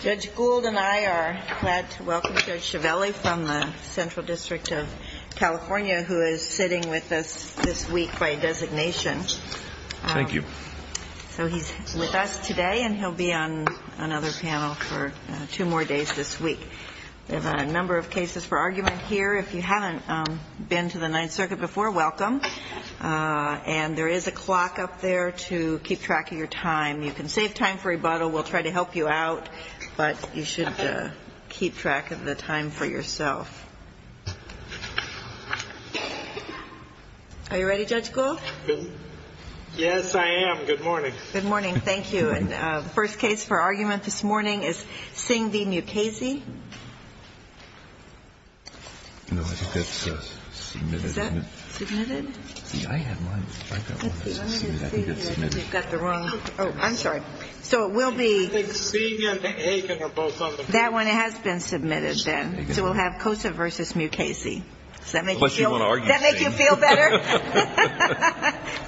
Judge Gould and I are glad to welcome Judge Chiavelli from the Central District of California who is sitting with us this week by designation. Thank you. So he's with us today and he'll be on another panel for two more days this week. There's a number of cases for argument here. If you haven't been to the Ninth Circuit before, welcome. And there is a clock up there to keep track of your time. You can save time for rebuttal. We'll try to help you out, but you should keep track of the time for yourself. Are you ready, Judge Gould? Yes, I am. Good morning. Good morning. Thank you. And the first case for argument this morning is Singh v. Mukasey. No, I think that's submitted. Is that submitted? Yeah, I have mine. I've got one that's submitted. I think it's submitted. Let me just see here. I think you've got the wrong. Oh, I'm sorry. So it will be. I think Singh and Aiken are both on the panel. That one has been submitted then. So we'll have Cosa v. Mukasey. Does that make you feel better? Unless you want to argue Singh.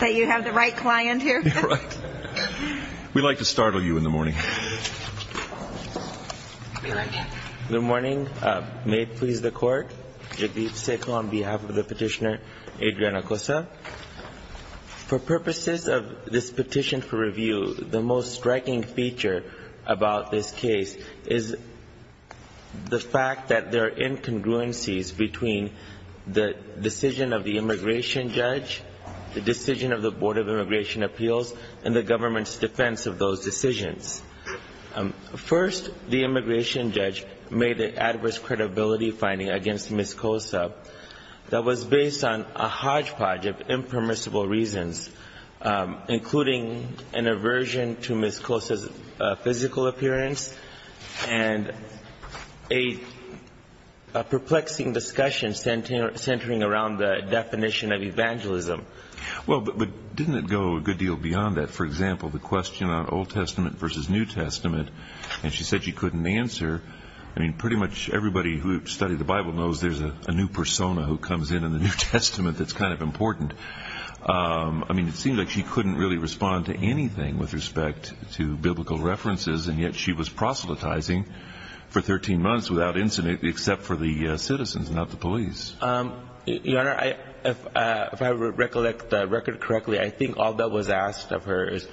That you have the right client here? You're right. We'd like to startle you in the morning. Good morning. May it please the Court. Yadiv Sekho on behalf of the petitioner, Adriana Cosa. For purposes of this petition for review, the most striking feature about this case is the fact that there are incongruencies between the decision of the immigration judge, the decision of the Board of Immigration Appeals, and the government's defense of those decisions. First the immigration judge made the adverse credibility finding against Ms. Cosa that was based on a hodgepodge of impermissible reasons, including an aversion to Ms. Cosa's physical appearance and a perplexing discussion centering around the definition of evangelism. Well, but didn't it go a good deal beyond that? For example, the question on Old Testament versus New Testament, and she said she couldn't answer. I mean, pretty much everybody who studied the Bible knows there's a new persona who comes in in the New Testament that's kind of important. I mean, it seemed like she couldn't really respond to anything with respect to biblical references, and yet she was proselytizing for 13 months without incident except for the citizens, not the police. Your Honor, if I recollect the record correctly, I think all that was asked of her is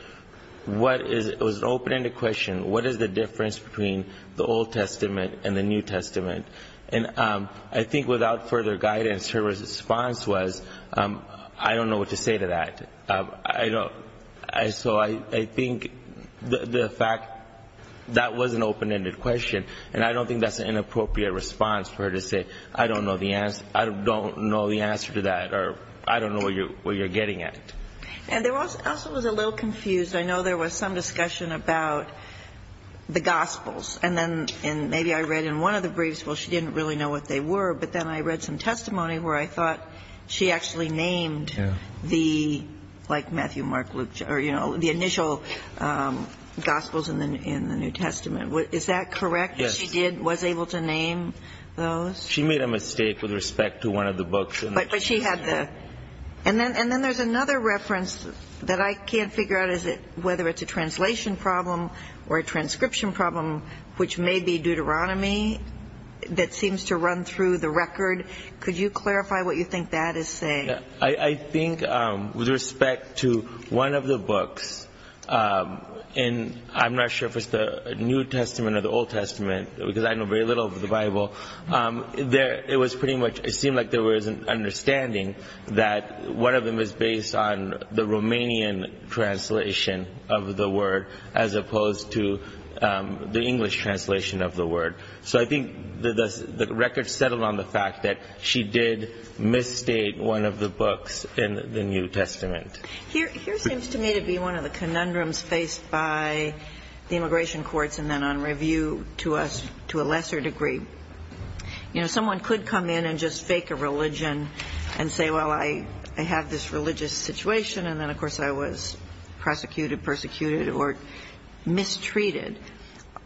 what is, it was an open-ended question, what is the difference between the Old Testament and the New Testament? And I think without further guidance, her response was, I don't know what to say to that. I don't, so I think the fact that was an open-ended question, and I don't think that's an inappropriate response for her to say, I don't know the answer to that, or I don't know what you're getting at. And there also was a little confused, I know there was some discussion about the Gospels, and then, and maybe I read in one of the briefs, well, she didn't really know what they were, but then I read some testimony where I thought she actually named the, like Matthew, Mark, Luke, or, you know, the initial Gospels in the New Testament. Is that correct? Yes. She did, was able to name those? She made a mistake with respect to one of the books. But she had the, and then there's another reference that I can't figure out is it, whether it's a translation problem or a transcription problem, which may be Deuteronomy, that seems to run through the record. Could you clarify what you think that is saying? I think with respect to one of the books, and I'm not sure if it's the New Testament or the Old Testament, because I know very little of the Bible, there, it was pretty much, it seemed like there was an understanding that one of them is based on the Romanian translation of the word as opposed to the English translation of the word. So I think the record settled on the fact that she did misstate one of the books in the New Testament. Here seems to me to be one of the conundrums faced by the immigration courts and then on review to us to a lesser degree. You know, someone could come in and just fake a religion and say, well, I have this religious situation, and then, of course, I was prosecuted, persecuted, or mistreated.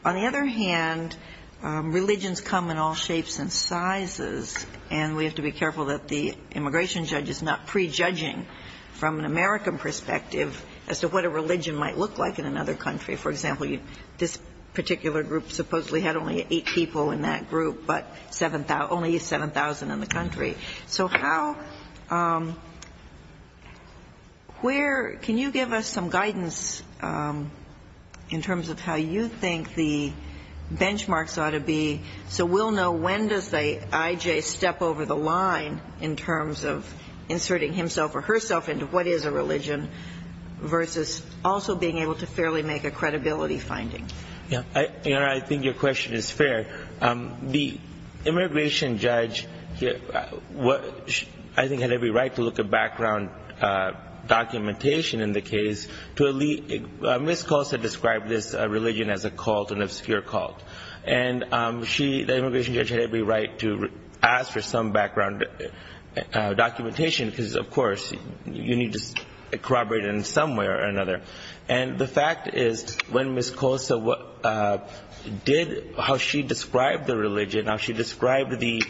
On the other hand, religions come in all shapes and sizes, and we have to be careful that the immigration judge is not prejudging from an American perspective as to what a religion might look like in another country. For example, this particular group supposedly had only eight people in that group, but only 7,000 in the country. So how, where, can you give us some guidance in terms of how you think the benchmarks ought to be so we'll know when does the IJ step over the line in terms of inserting himself or herself into what is a religion versus also being able to fairly make a credibility finding? Yeah, I think your question is fair. The immigration judge, I think, had every right to look at background documentation in the case. Ms. Colsa described this religion as a cult, an obscure cult. And she, the immigration judge, had every right to ask for some background documentation because, of course, you need to corroborate it in some way or another. And the fact is, when Ms. Colsa did, how she described the religion, how she described the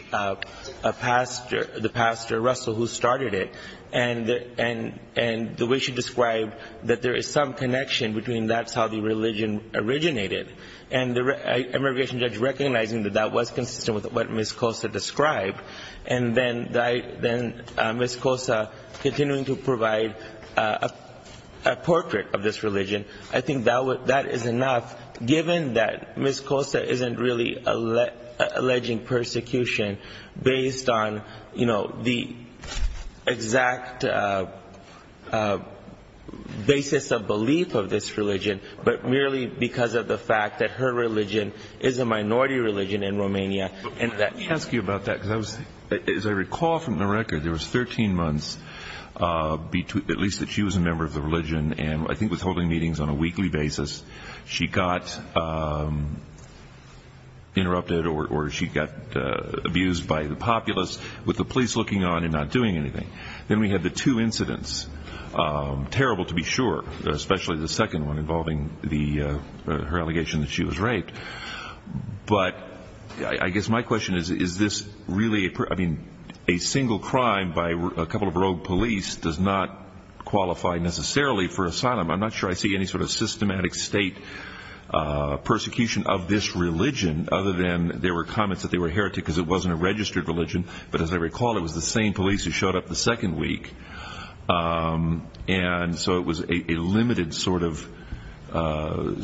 pastor, the pastor, Russell, who started it, and the way she described that there is some connection between that's how the religion originated, and the immigration judge recognizing that that was consistent with what Ms. Colsa described, and then Ms. Colsa continuing to be a member of this religion, I think that is enough, given that Ms. Colsa isn't really alleging persecution based on, you know, the exact basis of belief of this religion, but merely because of the fact that her religion is a minority religion in Romania. Let me ask you about that, because as I recall from the record, there was 13 months, at least that she was a member of the religion, and I think was holding meetings on a weekly basis. She got interrupted or she got abused by the populace, with the police looking on and not doing anything. Then we had the two incidents, terrible to be sure, especially the second one involving her allegation that she was raped. But I guess my question is, is this really, I mean, a single crime by a couple of rogue police does not qualify necessarily for asylum. I'm not sure I see any sort of systematic state persecution of this religion, other than there were comments that they were heretic because it wasn't a registered religion. But as I recall, it was the same police who showed up the second week. And so it was a limited sort of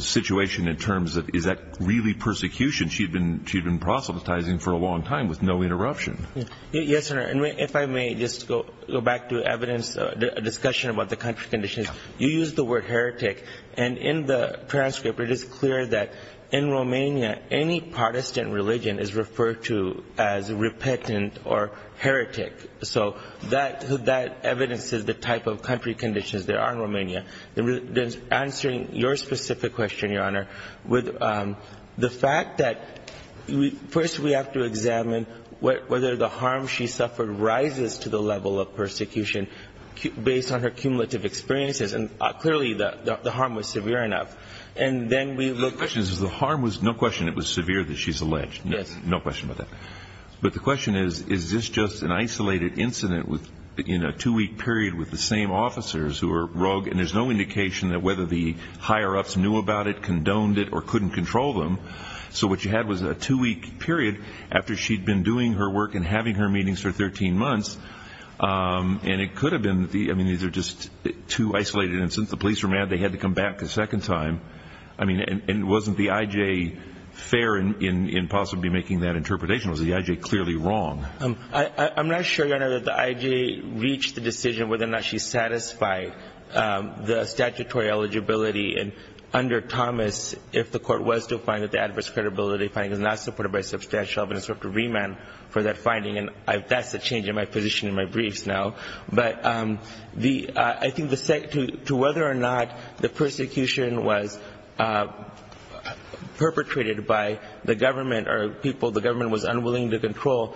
situation in terms of is that really persecution. She had been proselytizing for a long time with no interruption. Yes, Your Honor. And if I may just go back to evidence, a discussion about the country conditions. You used the word heretic. And in the transcript, it is clear that in Romania, any partisan religion is referred to as repentant or heretic. So that evidences the type of country conditions there are in Romania. Answering your specific question, Your Honor, with the fact that first we have to examine whether the harm she suffered rises to the level of persecution based on her cumulative experiences. And clearly, the harm was severe enough. And then we look at... The question is, the harm was, no question, it was severe that she's alleged. Yes. No question about that. But the question is, is this just an isolated incident in a two-week period with the same officers who are rogue? And there's no indication that whether the police owned it or couldn't control them. So what you had was a two-week period after she'd been doing her work and having her meetings for 13 months. And it could have been, I mean, these are just two isolated incidents. The police were mad, they had to come back a second time. I mean, and wasn't the IJ fair in possibly making that interpretation? Was the IJ clearly wrong? I'm not sure, Your Honor, that the IJ reached the decision whether or not she satisfied the statutory eligibility. And under Thomas, if the court was to find that the adverse credibility finding is not supported by substantial evidence, we'll have to remand for that finding. And that's a change in my position in my briefs now. But I think to whether or not the persecution was perpetrated by the government or people the government was unwilling to provide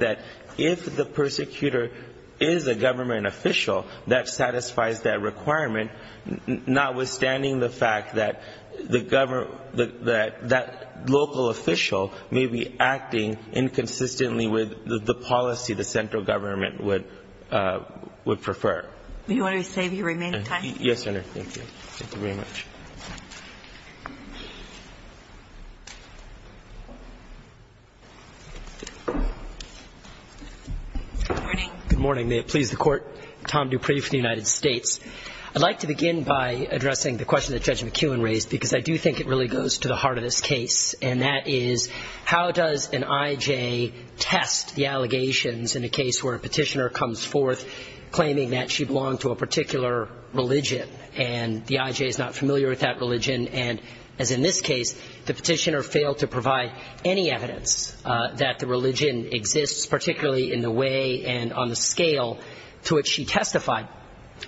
that if the persecutor is a government official that satisfies that requirement, notwithstanding the fact that the government, that local official may be acting inconsistently with the policy the central government would prefer. Do you want to save your remaining time? Yes, Your Honor. Thank you. Thank you very much. Good morning. May it please the Court. Tom Dupree from the United States. I'd like to begin by addressing the question that Judge McKeown raised, because I do think it really goes to the heart of this case. And that is, how does an IJ test the allegations in a case where a petitioner comes forth claiming that she belonged to a particular religion and the IJ is not familiar with that religion and, as in this case, the petitioner failed to provide any evidence that the religion exists, particularly in the way and on the scale to which she testified.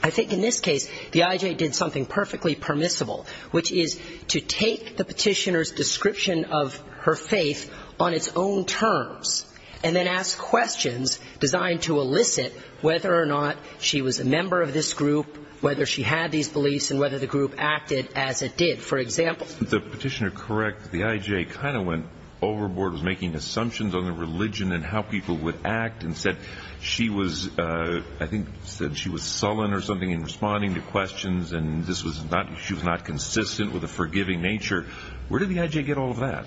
I think in this case, the IJ did something perfectly permissible, which is to take the petitioner's description of her faith on its own terms and then ask questions designed to elicit whether or not she was a member of this group, whether she had these beliefs and whether the group acted as it did. For example... The petitioner corrects the IJ kind of went overboard, was making assumptions on the religion and how people would act and said she was, I think, said she was sullen or something in responding to questions and this was not, she was not consistent with a forgiving nature. Where did the IJ get all of that?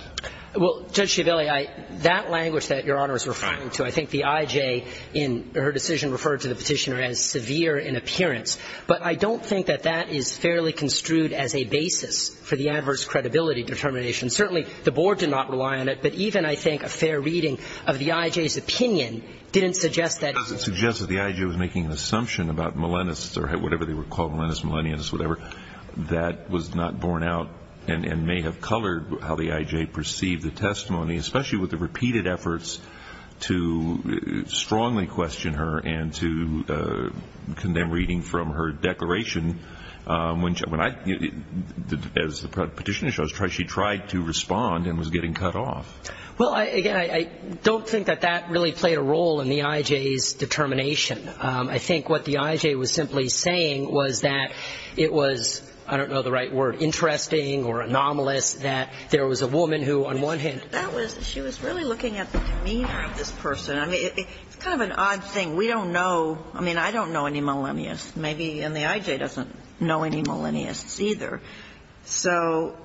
Well, Judge Schiavelli, that language that Your Honor is referring to, I think the IJ in her decision referred to the petitioner as severe in appearance. But I don't think that that is fairly construed as a basis for the adverse credibility determination. Certainly, the Board did not rely on it, but even, I think, a fair reading of the IJ's opinion didn't suggest that... It doesn't suggest that the IJ was making an assumption about millennists or whatever they were called, millennists, millennians, whatever, that was not borne out and may have colored how the IJ perceived the testimony, especially with the repeated efforts to strongly question her and to condemn reading from her declaration. As the petitioner shows, she tried to respond and was getting cut off. Well, again, I don't think that that really played a role in the IJ's determination. I think what the IJ was simply saying was that it was, I don't know the right word, interesting or anomalous that there was a woman who, on one hand... She was really looking at the demeanor of this person. I mean, it's kind of an odd thing. We don't know, I mean, I don't know any millenniasts, maybe, and the IJ doesn't know any millenniasts either. So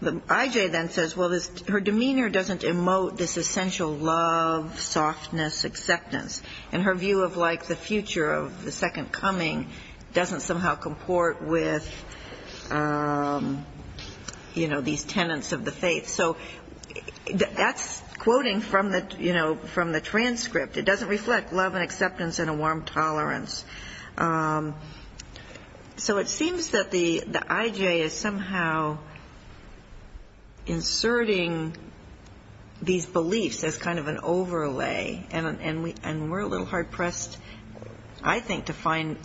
the IJ then says, well, her demeanor doesn't emote this essential love, softness, acceptance. And her view of, like, the future of the second coming doesn't somehow comport with, you know, these tenets of the faith. So that's quoting from the, you know, from the transcript. It doesn't reflect love and acceptance and a warm tolerance. So it seems that the IJ is somehow inserting these beliefs as kind of an overlay. And we're a little hard-pressed, I think, to find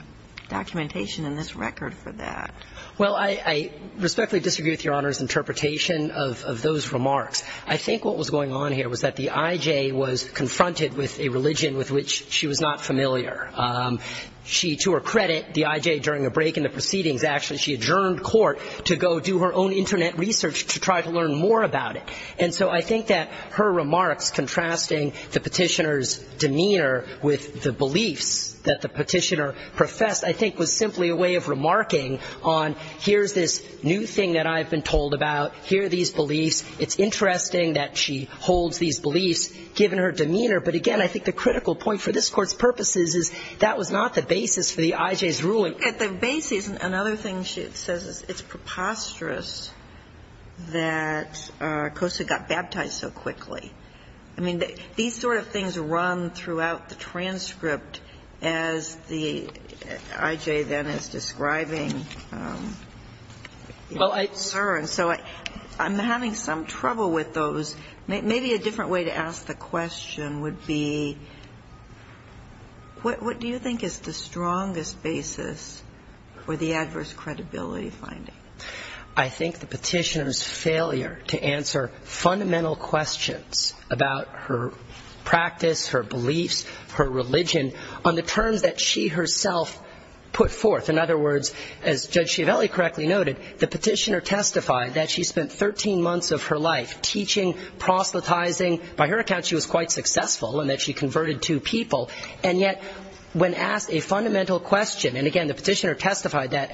documentation in this record for that. Well, I respectfully disagree with Your Honor's interpretation of those remarks. I think what was going on here was that the IJ was confronted with a religion with which she was not familiar. She, to her credit, the IJ, during a break in the proceedings, actually, she adjourned court to go do her own Internet research to try to learn more about it. And so I think that her remarks contrasting the Petitioner's demeanor with the beliefs that the Petitioner professed, I think, was simply a way of remarking on here's this new thing that I've been told about. Here are these beliefs. It's interesting that she holds these beliefs, given her demeanor. But again, I think the critical point for this Court's purpose is, is that was not the basis for the IJ's ruling. At the basis, another thing she says is it's preposterous that Cosa got baptized so quickly. I mean, these sort of things run throughout the transcript, as the IJ then is describing her. And so I'm having some trouble with those. Maybe a different way to ask the question would be, what do you think is the strongest basis for the adverse credibility finding? I think the Petitioner's failure to answer fundamental questions about her practice, her beliefs, her religion, on the terms that she herself put forth. In other words, as Judge Schiavelli correctly noted, the Petitioner testified that she spent 13 months of her life teaching, proselytizing. By her account, she was quite successful in that she converted two people. And yet, when asked a fundamental question, and again, the Petitioner testified that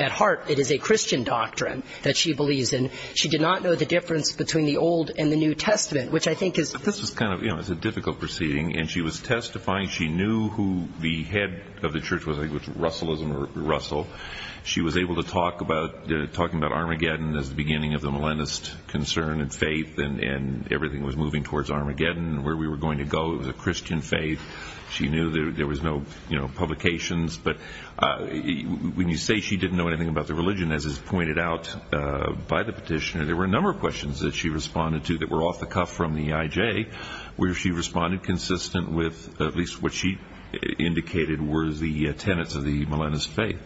at heart, it is a Christian doctrine that she believes in. She did not know the difference between the Old and the New Testament, which I think is But this was kind of, you know, it's a difficult proceeding. And she was testifying, she knew who the head of the church was, I think it was Russell, she was able to talk about, talking about Armageddon as the beginning of the Millennist concern and faith, and everything was moving towards Armageddon, where we were going to go. It was a Christian faith. She knew there was no, you know, publications. But when you say she didn't know anything about the religion, as is pointed out by the Petitioner, there were a number of questions that she responded to that were off the cuff from the IJ, where she responded consistent with at least what she indicated were the tenets of the Millennist faith.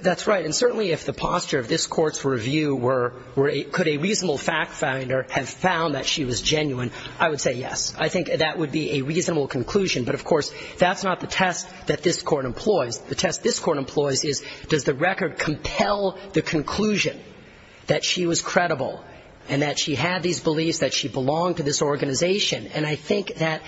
That's right. And certainly if the posture of this Court's review were, could a reasonable fact finder have found that she was genuine, I would say yes. I think that would be a reasonable conclusion. But of course, that's not the test that this Court employs. The test this Court employs is, does the record compel the conclusion that she was credible and that she had these beliefs, that she belonged to this organization? And I think that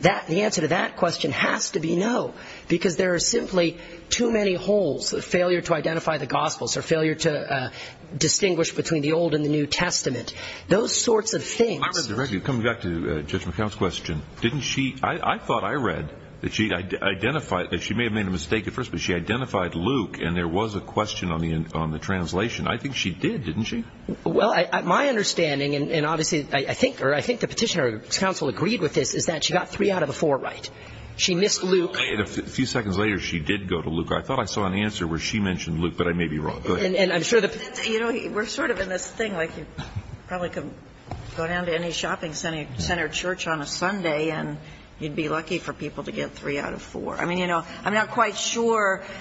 the answer to that question has to be no, because there are simply too many holes, a failure to identify the Gospels, a failure to distinguish between the Old and the New Testament, those sorts of things. Well, I read the record. Coming back to Judge McCown's question, didn't she – I thought I read that she identified – that she may have made a mistake at first, but she identified Luke, and there was a question on the translation. I think she did, didn't she? Well, my understanding, and obviously I think – or I think the Petitioner's counsel agreed with this, is that she got three out of the four right. She missed Luke. A few seconds later, she did go to Luke. I thought I saw an answer where she mentioned Luke, but I may be wrong. Go ahead. And I'm sure the Petitioner – You know, we're sort of in this thing like you probably could go down to any shopping center church on a Sunday, and you'd be lucky for people to get three out of four. I mean, you know, I'm not quite sure –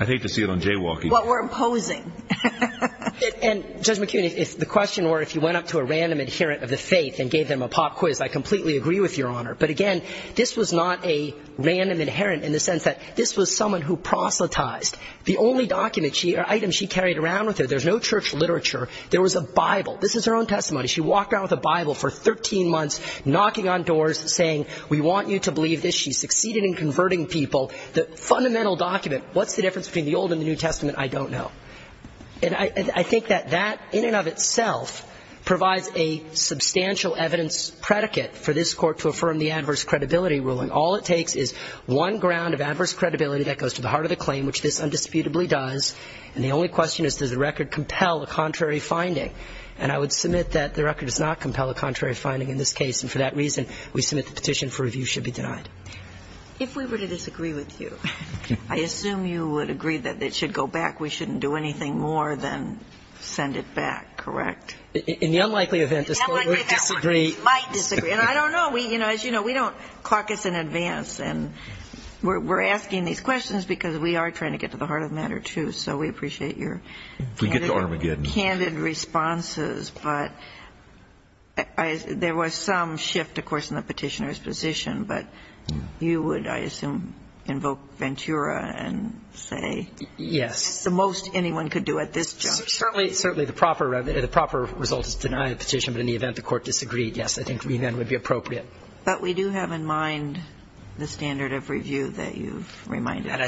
I'd hate to see it on jaywalking. – what we're imposing. And, Judge McCown, if the question were if you went up to a random adherent of the faith and gave them a pop quiz, I completely agree with Your Honor. But again, this was not a random adherent in the sense that this was someone who proselytized. The only document or item she carried around with her – there's no church literature. There was a Bible. This is her own testimony. She walked around with a Bible for 13 months, knocking on doors, saying, we want you to believe this. She succeeded in converting people. The fundamental document, what's the difference between the Old and the New Testament, I don't know. And I think that that in and of itself provides a substantial evidence predicate for this Court to affirm the adverse credibility ruling. All it takes is one ground of adverse credibility. And the only question is, does the record compel a contrary finding? And I would submit that the record does not compel a contrary finding in this case. And for that reason, we submit the petition for review should be denied. – If we were to disagree with you, I assume you would agree that it should go back. We shouldn't do anything more than send it back, correct? – In the unlikely event this Court would disagree –– In the unlikely event this Court might disagree. And I don't know. As you know, we don't caucus in advance. And we're asking these questions because we are trying to get to the heart of the matter, too. So we appreciate your candid responses. But there was some shift, of course, in the petitioner's position. But you would, I assume, invoke Ventura and say –– Yes. – That's the most anyone could do at this juncture. – Certainly, the proper result is to deny the petition. But in the event the Court disagreed, yes, I think we then would be appropriate. And I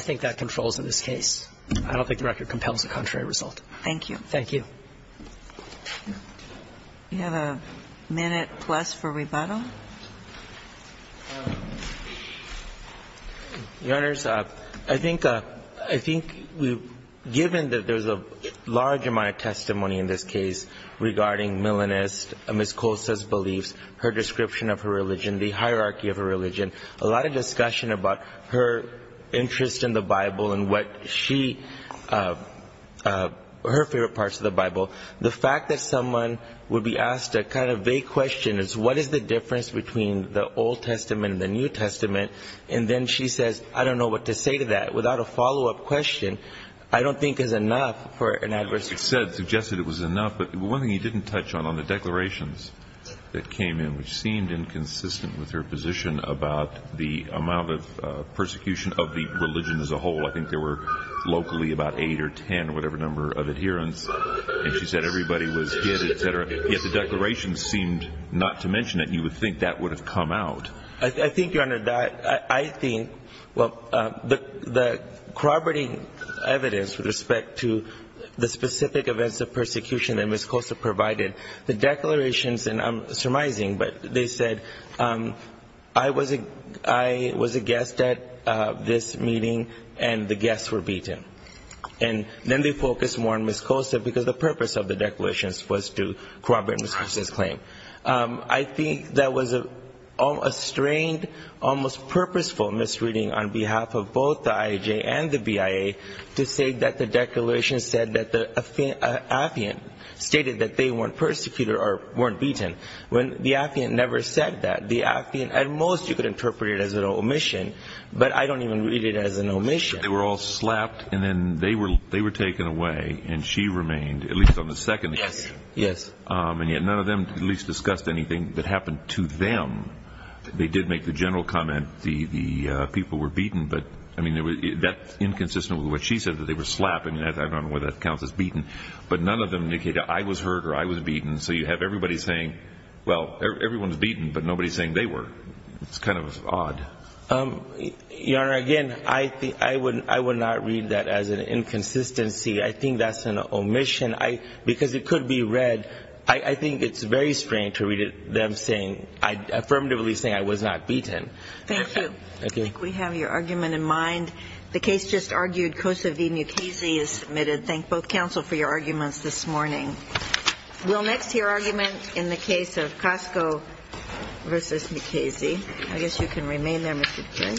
think that controls in this case. I don't think the record compels a contrary result. – Thank you. – Thank you. – We have a minute plus for rebuttal. – Your Honors, I think we've – given that there's a large amount of testimony in this case regarding Milanist, Ms. Costa's beliefs, her description of her religion, the hierarchy of her religion, a lot of discussion about her interest in the Bible and what she – her favorite parts of the Bible. The fact that someone would be asked a kind of vague question as what is the difference between the Old Testament and the New Testament, and then she says, I don't know what to say to that, without a follow-up question, I don't think is enough for an adverse –– You said, suggested it was enough. But one thing you didn't touch on, on the declarations that came in, which seemed inconsistent with her position about the amount of persecution of the religion as a whole. I think there were locally about eight or ten, whatever number, of adherents. And she said everybody was hit, et cetera. Yet the declarations seemed not to mention it. You would think that would have come out. – I think, Your Honor, that – I think – well, the corroborating evidence with respect to the specific events of persecution that Ms. Costa provided, the declarations – and I'm surmising – but they said, I was a guest at this meeting, and the guests were beaten. And then they focused more on Ms. Costa because the purpose of the declarations was to corroborate Ms. Costa's claim. I think that was a strained, almost purposeful misreading on behalf of both the IAJ and the BIA to say that the declarations said that the Athean stated that they weren't persecuted or weren't beaten, when the Athean never said that. The Athean, at most, you could interpret it as an omission, but I don't even read it as an omission. – They were all slapped and then they were taken away and she remained, at least on the second occasion. – Yes, yes. – And yet none of them at least discussed anything that happened to them. They did make the general comment the people were beaten, but that's inconsistent with what she said, that they were slapped. I don't know whether that counts as beaten. But none of them indicated, I was hurt or I was beaten. So you have everybody saying, well, everyone's beaten, but nobody's saying they were. It's kind of odd. – Your Honor, again, I would not read that as an inconsistency. I think that's an omission. Because it could be read, I think it's very strange to read them saying, affirmatively saying, I was not beaten. – Thank you. – Thank you. – I think we have your argument in mind. The case just argued, Costa v. Mukasey is submitted. Thank both counsel for your arguments this morning. We'll next hear argument in the case of Costa v. Mukasey. I guess you can remain there, Mr. King.